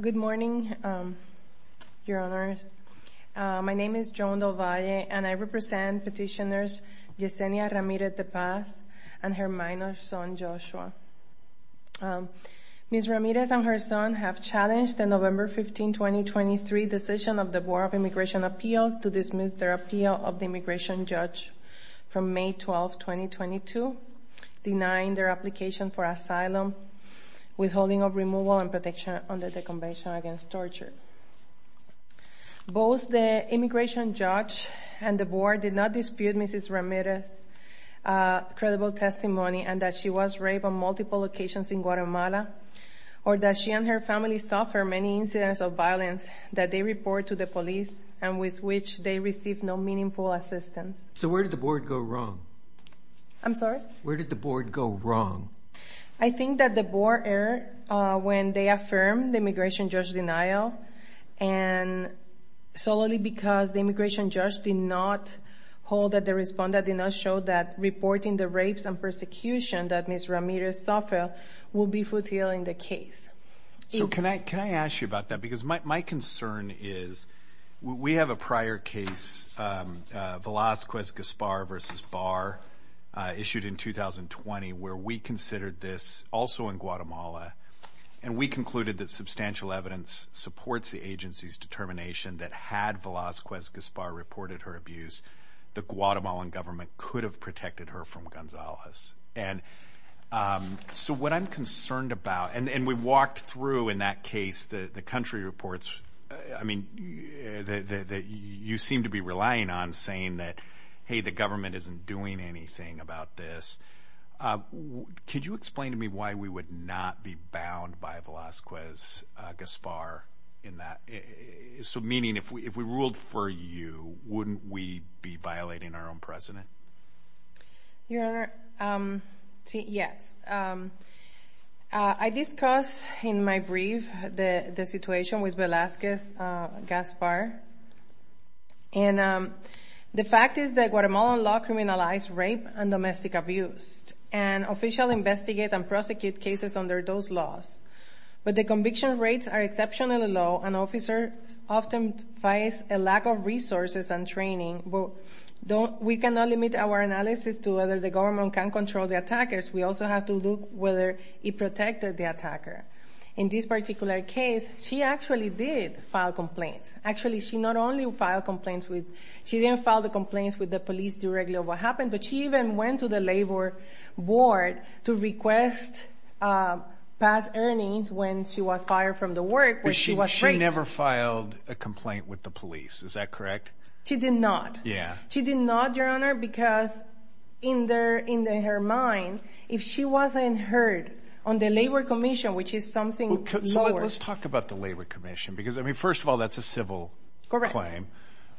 Good morning, Your Honor. My name is Joan Del Valle and I represent petitioners Yesenia Ramirez-Tepaz and her son Joshua. Ms. Ramirez and her son have challenged the November 15, 2023 decision of the Board of Immigration Appeals to dismiss their appeal of the immigration judge from May 12, 2022, denying their application for asylum, withholding of removal and protection under the Convention Against Torture. Both the immigration judge and the board did not dispute Mrs. Ramirez's credible testimony and that she was raped on multiple occasions in Guatemala or that she and her family suffered many incidents of violence that they report to the police and with which they received no meaningful assistance. So where did the board go wrong? I'm sorry? Where did the board go wrong? I think that the board erred when they affirmed the immigration judge's denial and solely because the immigration judge did not hold that the respondent did not show that reporting the rapes and persecution that Ms. Ramirez suffered will be fulfilling the case. So can I ask you about that? Because my concern is we have a prior case, Velazquez-Gaspar v. Barr, issued in 2020 where we considered this also in Guatemala and we concluded that substantial evidence supports the agency's determination that had Velazquez-Gaspar reported her abuse, the Guatemalan government could have protected her from Gonzalez. So what I'm concerned about, and we walked through in that case the country reports that you seem to be relying on saying that, hey, the government isn't doing anything about this. Could you explain to me why we would not be bound by Velazquez-Gaspar in that? So meaning if we ruled for you, wouldn't we be violating our own precedent? Your Honor, yes. I discussed in my brief the situation with Velazquez-Gaspar and the fact is that Guatemalan law criminalized rape and domestic abuse and officially investigate and prosecute cases under those laws. But the conviction rates are exceptionally low and officers often face a lack of resources and training. We cannot limit our analysis to whether the government can control the attackers. We also have to look whether it protected the attacker. In this particular case, she actually did file complaints. Actually she not only filed complaints with, she didn't file the complaints with the police directly of what happened, but she even went to the labor board to request past earnings when she was fired from the work where she was raped. She never filed a complaint with the police. Is that correct? She did not. Yeah. She did not, Your Honor, because in her mind, if she wasn't heard on the labor commission, which is something lower. Let's talk about the labor commission because, I mean, first of all, that's a civil claim.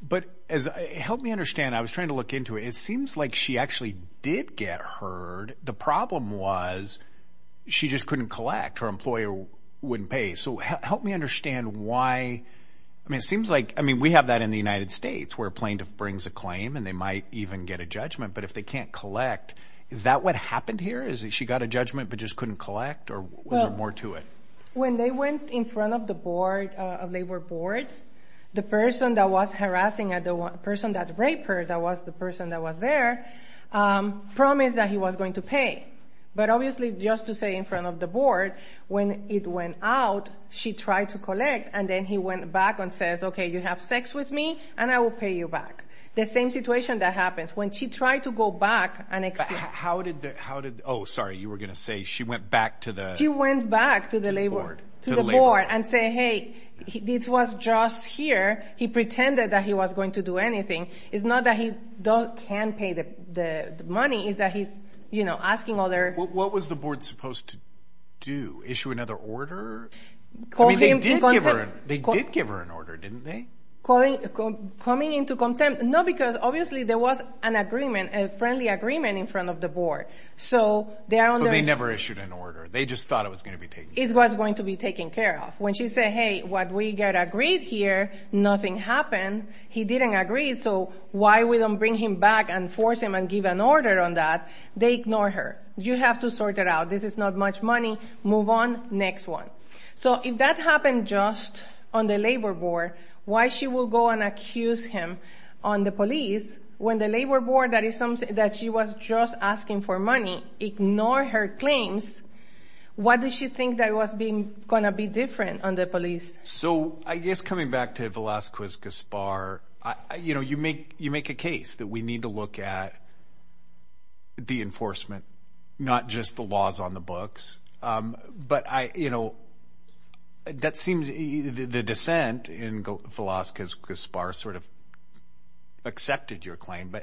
But as, help me understand, I was trying to look into it. It seems like she actually did get heard. The problem was she just couldn't collect. Her employer wouldn't pay. So help me understand why, I mean, it seems like, I mean, we have that in the United States where plaintiff brings a claim and they might even get a judgment. But if they can't collect, is that what happened here? Is it she got a judgment but just couldn't collect or was there more to it? When they went in front of the board, labor board, the person that was harassing her, the person that raped her, that was the person that was there, promised that he was going to pay. But obviously, just to say in front of the board, when it went out, she tried to collect and then he went back and says, okay, you have sex with me and I will pay you back. The same situation that happens when she tried to go back and explain. How did the, how did, oh, sorry, you were going to say she went back to the- The board. To the board and say, hey, this was just here. He pretended that he was going to do anything. It's not that he can't pay the money, it's that he's, you know, asking other- What was the board supposed to do? Issue another order? I mean, they did give her an order, didn't they? Coming into contempt, no, because obviously there was an agreement, a friendly agreement in front of the board. So they are on the- So they never issued an order. They just thought it was going to be taken care of. It was going to be taken care of. When she said, hey, what we got agreed here, nothing happened. He didn't agree, so why we don't bring him back and force him and give an order on that? They ignore her. You have to sort it out. This is not much money, move on, next one. So if that happened just on the labor board, why she will go and accuse him on the police when the labor board that she was just asking for money ignore her claims? What does she think that was going to be different on the police? So I guess coming back to Velazquez Gaspar, you know, you make a case that we need to look at the enforcement, not just the laws on the books. But I, you know, that seems the dissent in Velazquez Gaspar sort of accepted your claim.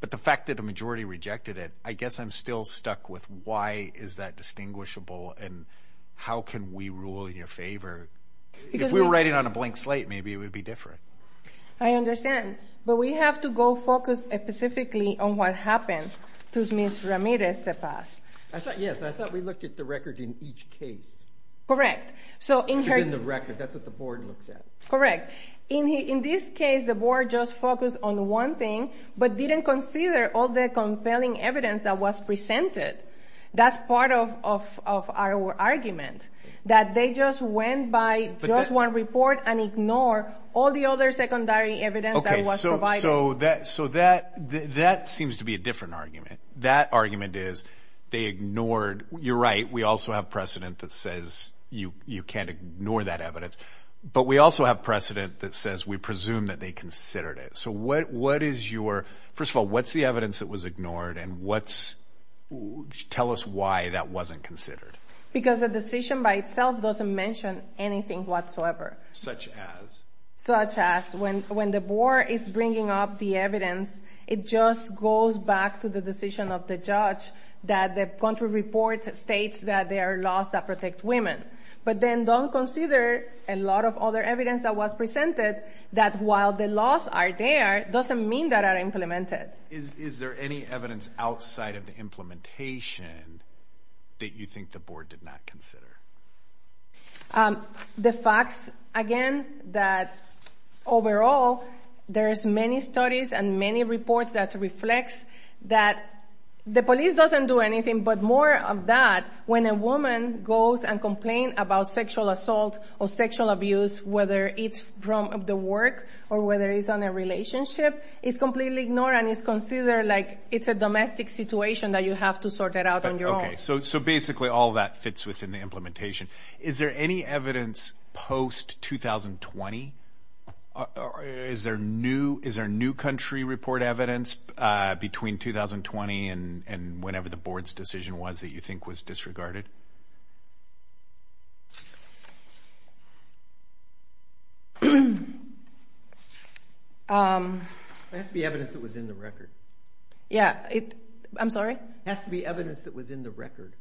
But the fact that the majority rejected it, I guess I'm still stuck with why is that distinguishable and how can we rule in your favor? If we were writing on a blank slate, maybe it would be different. I understand. But we have to go focus specifically on what happened to Ms. Ramirez Tepaz. I thought, yes, I thought we looked at the record in each case. Correct. Because in the record, that's what the board looks at. Correct. In this case, the board just focused on one thing, but didn't consider all the compelling evidence that was presented. That's part of our argument, that they just went by just one report and ignore all the other secondary evidence that was provided. So that seems to be a different argument. That argument is they ignored, you're right, we also have precedent that says you can't ignore that evidence. But we also have precedent that says we presume that they considered it. So what is your, first of all, what's the evidence that was ignored and what's, tell us why that wasn't considered. Because the decision by itself doesn't mention anything whatsoever. Such as? Such as when the board is bringing up the evidence, it just goes back to the decision of the judge that the country report states that there are laws that protect women. But then don't consider a lot of other evidence that was presented that while the laws are there, doesn't mean that are implemented. Is there any evidence outside of the implementation that you think the board did not consider? The facts, again, that overall, there's many studies and many reports that reflect that the police doesn't do anything but more of that, when a woman goes and complains about sexual assault or sexual abuse, whether it's from the work or whether it's on a relationship, it's completely ignored and it's considered like it's a domestic situation that you have to sort it out on your own. Okay, so basically all that fits within the implementation. Is there any evidence post-2020? Is there new country report evidence between 2020 and whenever the board's decision was that you think was disregarded? It has to be evidence that was in the record. Yeah, I'm sorry? It has to be evidence that was in the record.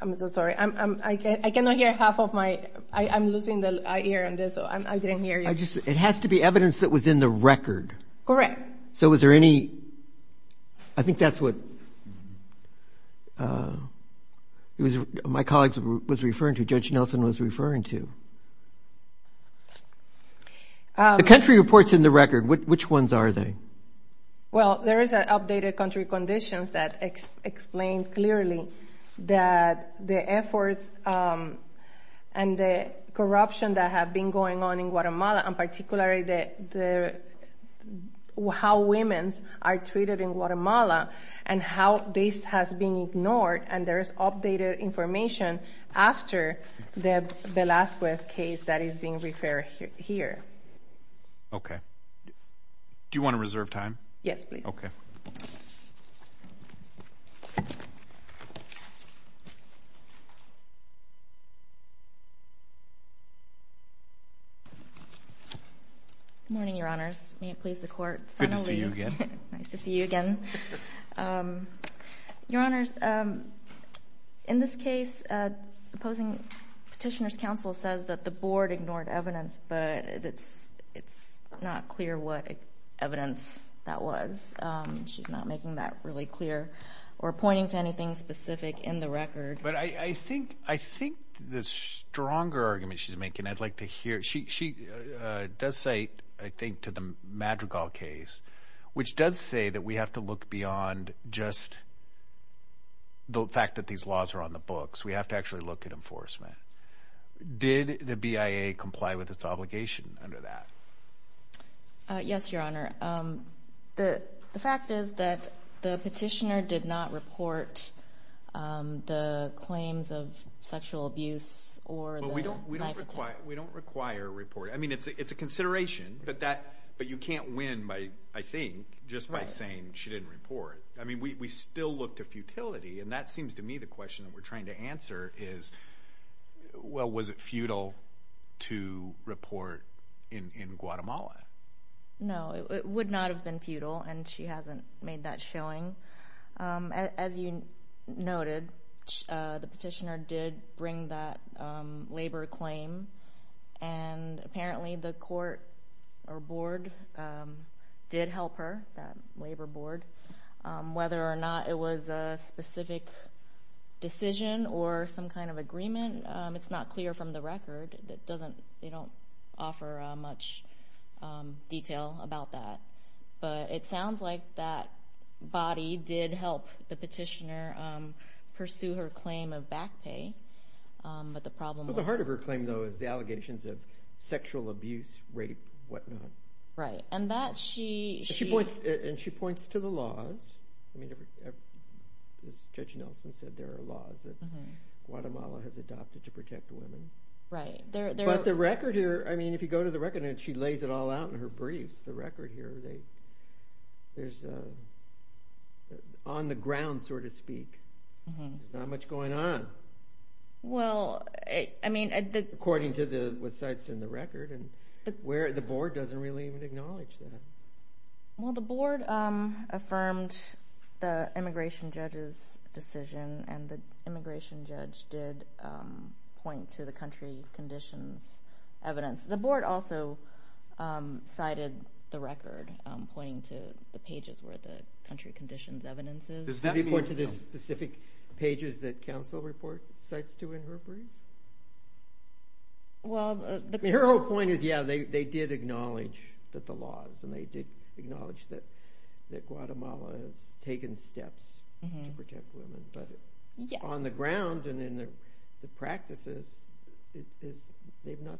I'm so sorry, I cannot hear half of my, I'm losing the ear on this, I didn't hear you. It has to be evidence that was in the record. Correct. So was there any, I think that's what my colleague was referring to, Judge Nelson was referring to. The country reports in the record, which ones are they? Well, there is an updated country conditions that explain clearly that the efforts and the corruption that have been going on in Guatemala and particularly how women are treated in Guatemala and how this has been ignored and there is updated information after the Velasquez case that is being referred here. Okay. Do you want to reserve time? Yes, please. Good morning, your honors. May it please the court. Good to see you again. Nice to see you again. Your honors, in this case, opposing petitioner's counsel says that the board ignored evidence but it's not clear what evidence that was. She's not making that really clear or pointing to anything specific in the record. But I think the stronger argument she's making, I'd like to hear, she does say, I think to the Madrigal case, which does say that we have to look beyond just the fact that these laws are on the books. We have to actually look at enforcement. Did the BIA comply with its obligation under that? Yes, your honor. The fact is that the petitioner did not report the claims of sexual abuse or the knife attack. We don't require a report. I mean, it's a consideration, but you can't win by, I think, just by saying she didn't report. I mean, we still look to futility and that seems to me the question that we're trying to answer is, well, was it futile to report in Guatemala? No, it would not have been futile and she hasn't made that showing. As you noted, the petitioner did bring that labor claim and apparently the court or board did help her, that labor board. Whether or not it was a specific decision or some kind of agreement, it's not clear from the record. It doesn't, they don't offer much detail about that, but it sounds like that body did help the petitioner pursue her claim of back pay, but the problem... But the heart of her claim, though, is the allegations of sexual abuse, rape, whatnot. Right, and that she... And she points to the laws. As Judge Nelson said, there are laws that Guatemala has adopted to protect women. Right. But the record here, I mean, if you go to the record and she lays it all out in her briefs, the record here, there's on the ground, so to speak. There's not much going on. Well, I mean... According to what's cited in the record. The board doesn't really even acknowledge that. Well, the board affirmed the immigration judge's decision and the immigration judge did point to the country conditions evidence. The board also cited the record, pointing to the pages where the country conditions evidence is. Does that mean... According to the specific pages that counsel reports, cites to in her brief? Well, the... Her whole point is, yeah, they did acknowledge that the laws and they did acknowledge that Guatemala has taken steps to protect women, but on the ground and in the practices, they've not...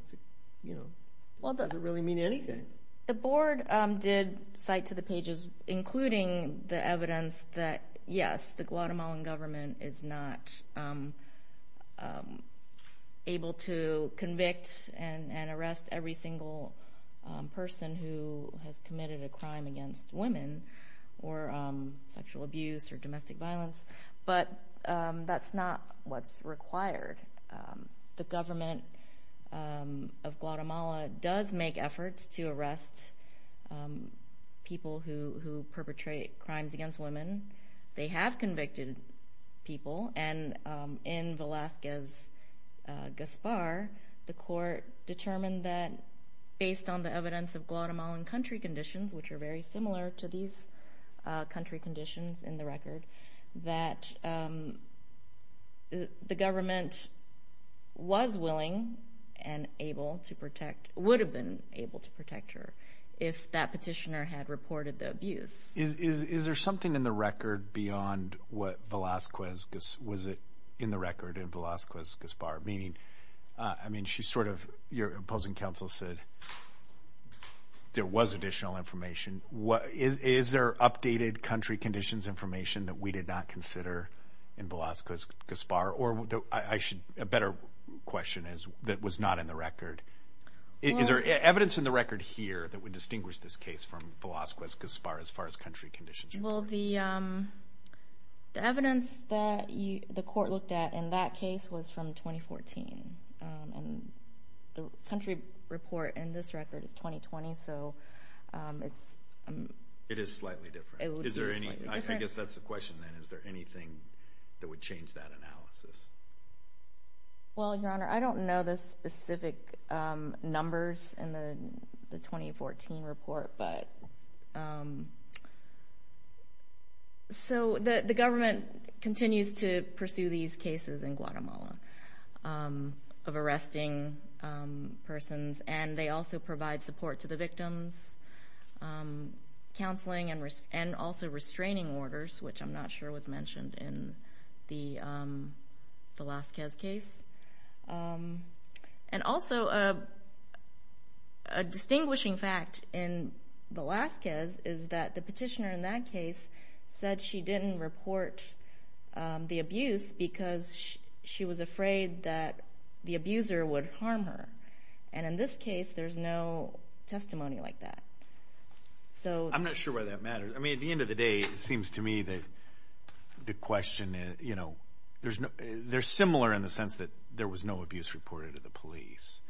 Does it really mean anything? The board did cite to the pages, including the evidence that, yes, the Guatemalan government is not able to convict and arrest every single person who has committed a crime against women or sexual abuse or domestic violence, but that's not what's required. The government of Guatemala does make efforts to arrest people who perpetrate crimes against women. They have convicted people and in Velasquez Gaspar, the court determined that based on the evidence of Guatemalan country conditions, which are very similar to these country conditions in the record, that the government was willing and able to protect... Would have been able to protect her if that petitioner had reported the abuse. Is there something in the record beyond what Velasquez... Was it in the record in Velasquez Gaspar? Meaning... I mean, she's sort of... Your opposing counsel said there was additional information. Is there updated country conditions information that we did not consider in Velasquez Gaspar? Or I should... A better question is, that was not in the record. Is there evidence in the record here that would distinguish this case from Velasquez Gaspar as far as country conditions? Well, the evidence that the court looked at in that case was from 2014. And the country report in this record is 2020, so it's... It is slightly different. It would be slightly different. Is there any... I guess that's the question then. Is there anything that would change that analysis? Well, Your Honor, I don't know the specific numbers in the 2014 report, but... So, the government continues to pursue these cases in Guatemala of arresting persons. And they also provide support to the victims, counseling, and also restraining orders, which I'm not sure was mentioned in the Velasquez case. And also, a distinguishing fact in Velasquez is that the petitioner in that case said she didn't report the abuse because she was afraid that the abuser would harm her. And in this case, there's no testimony like that. So... I'm not sure why that matters. I mean, at the end of the day, it seems to me that the question... They're similar in the sense that there was no abuse reported to the police.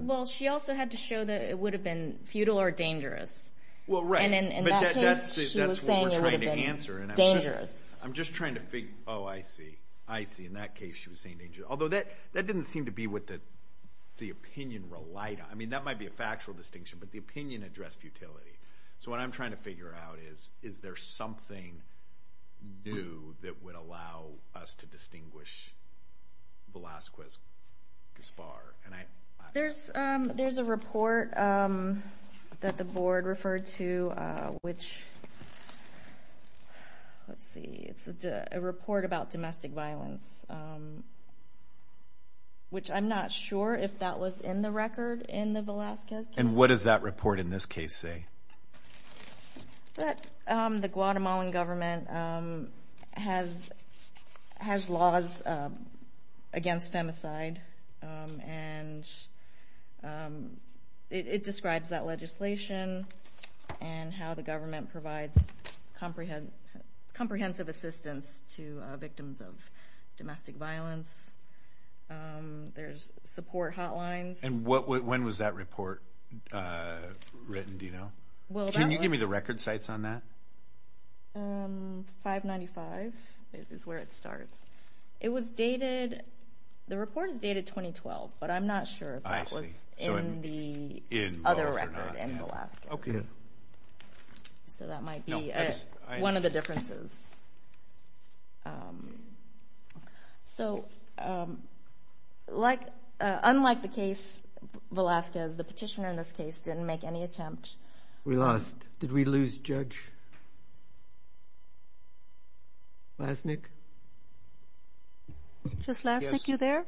Well, she also had to show that it would have been futile or dangerous. Well, right. And in that case, she was saying it would have been dangerous. I'm just trying to figure... Oh, I see. I see. In that case, she was saying dangerous. Although, that didn't seem to be what the opinion relied on. I mean, that might be a factual distinction, but the opinion addressed futility. So what I'm trying to figure out is, is there something new that would allow us to distinguish Velasquez-Gaspar? There's a report that the board referred to, which... Let's see. It's a report about domestic violence. Which I'm not sure if that was in the record in the Velasquez case. And what does that report in this case say? That the Guatemalan government has laws against femicide, and it describes that legislation and how the government provides comprehensive assistance to victims of domestic violence. There's support hotlines. And when was that report written, do you know? Can you give me the record sites on that? 595 is where it starts. It was dated... The report is dated 2012, but I'm not sure if that was in the other record in Velasquez. So that might be one of the differences. So unlike the case, Velasquez, the petitioner in this case didn't make any attempt. We lost. Did we lose Judge Lasnik? Judge Lasnik, you there?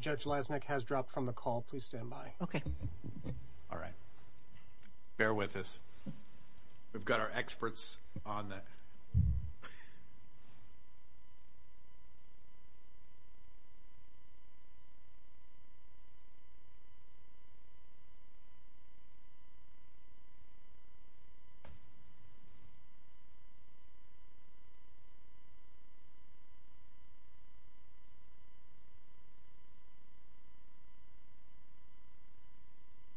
Judge Lasnik has dropped from the call. Please stand by. Okay. All right. Bear with us. We've got our experts on that. Okay.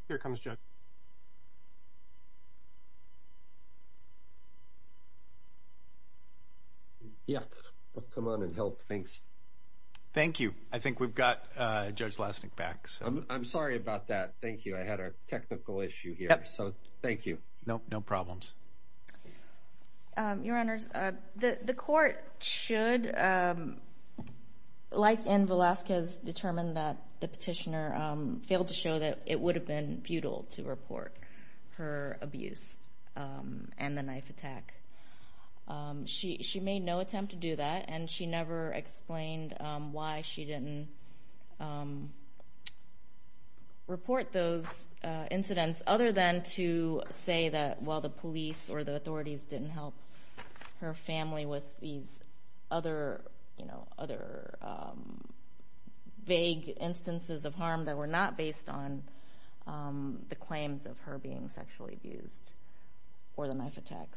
Here comes Judge Lasnik. Yeah, come on and help. Thanks. Thank you. I think we've got Judge Lasnik back. I'm sorry about that. Thank you. I had a technical issue here, so thank you. No problems. Your Honors, the court should, like in Velasquez, determine that the petitioner failed to show that it would have been futile to report her abuse and the knife attack. She made no attempt to do that, and she never explained why she didn't report those incidents other than to say that, well, the police or the authorities didn't help her family with these other vague instances of harm that were not based on the claims of her being sexually abused or the knife attack.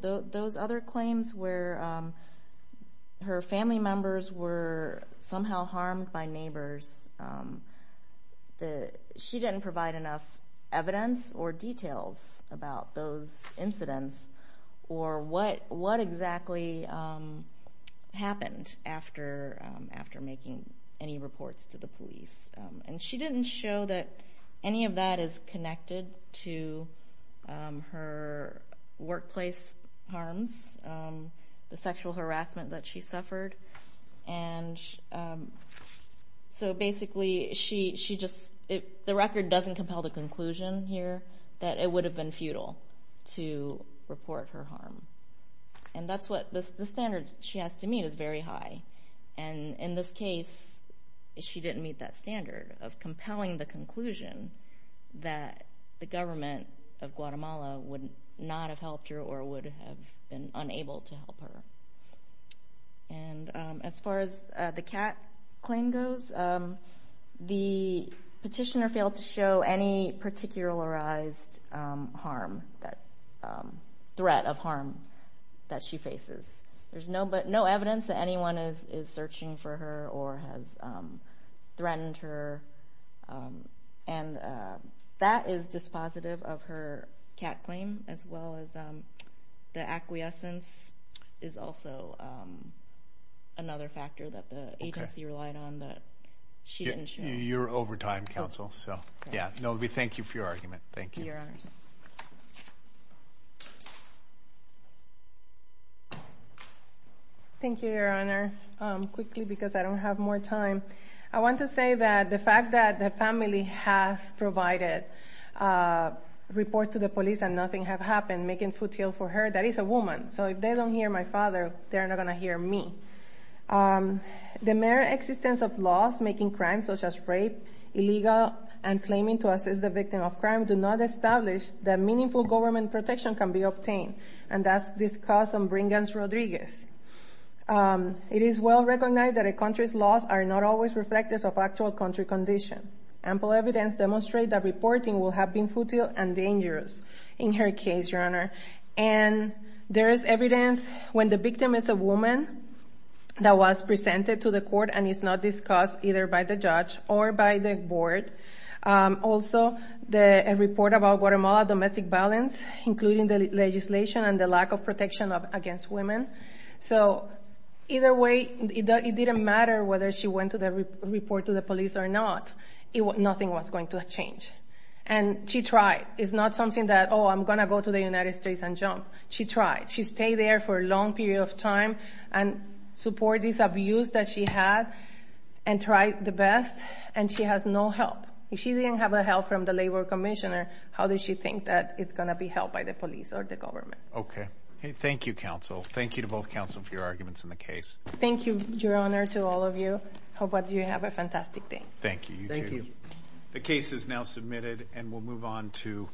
Those other claims where her family members were somehow harmed by neighbors, she didn't provide enough evidence or details about those incidents or what exactly happened after making any reports to the police. And she didn't show that any of that is connected to her workplace harms, the sexual harassment that she suffered. And so basically, the record doesn't compel the conclusion here that it would have been futile to report her harm. And that's what the standard she has to meet is very high. And in this case, she didn't meet that standard of compelling the conclusion that the government of Guatemala would not have helped her or would have been unable to help her. And as far as the Kat claim goes, the petitioner failed to show any particularized harm, threat of harm that she faces. There's no evidence that anyone is searching for her or has threatened her. And that is dispositive of her Kat claim as well as the acquiescence is also another factor that the agency relied on that she didn't show. You're over time, counsel. So, yeah. Novi, thank you for your argument. Thank you. Thank you, Your Honor. Quickly, because I don't have more time. I want to say that the fact that the family has provided a report to the police and nothing has happened, making futile for her, that is a woman. So if they don't hear my father, they're not going to hear me. The mere existence of laws making crimes such as rape, illegal, and claiming to assist the victim of crime do not establish that meaningful government protection can be obtained. And that's discussed on Brinkman's Rodriguez. It is well recognized that a country's laws are not always reflective of actual country condition. Ample evidence demonstrates that reporting will have been futile and dangerous in her case, Your Honor. And there is evidence when the victim is a woman that was presented to the court and is not discussed either by the judge or by the board. Also, the report about Guatemala domestic violence, including the legislation and the lack of protection against women. So either way, it didn't matter whether she went to the report to the police or not, nothing was going to change. And she tried. It's not something that, oh, I'm going to go to the United States and jump. She tried. She stayed there for a long period of time and supported this abuse that she had and tried the best, and she has no help. If she didn't have the help from the labor commissioner, how did she think that it's going to be helped by the police or the government? Okay. Thank you, counsel. Thank you to both counsel for your arguments in the case. Thank you, Your Honor, to all of you. I hope that you have a fantastic day. Thank you. Thank you. The case is now submitted and we'll move on to...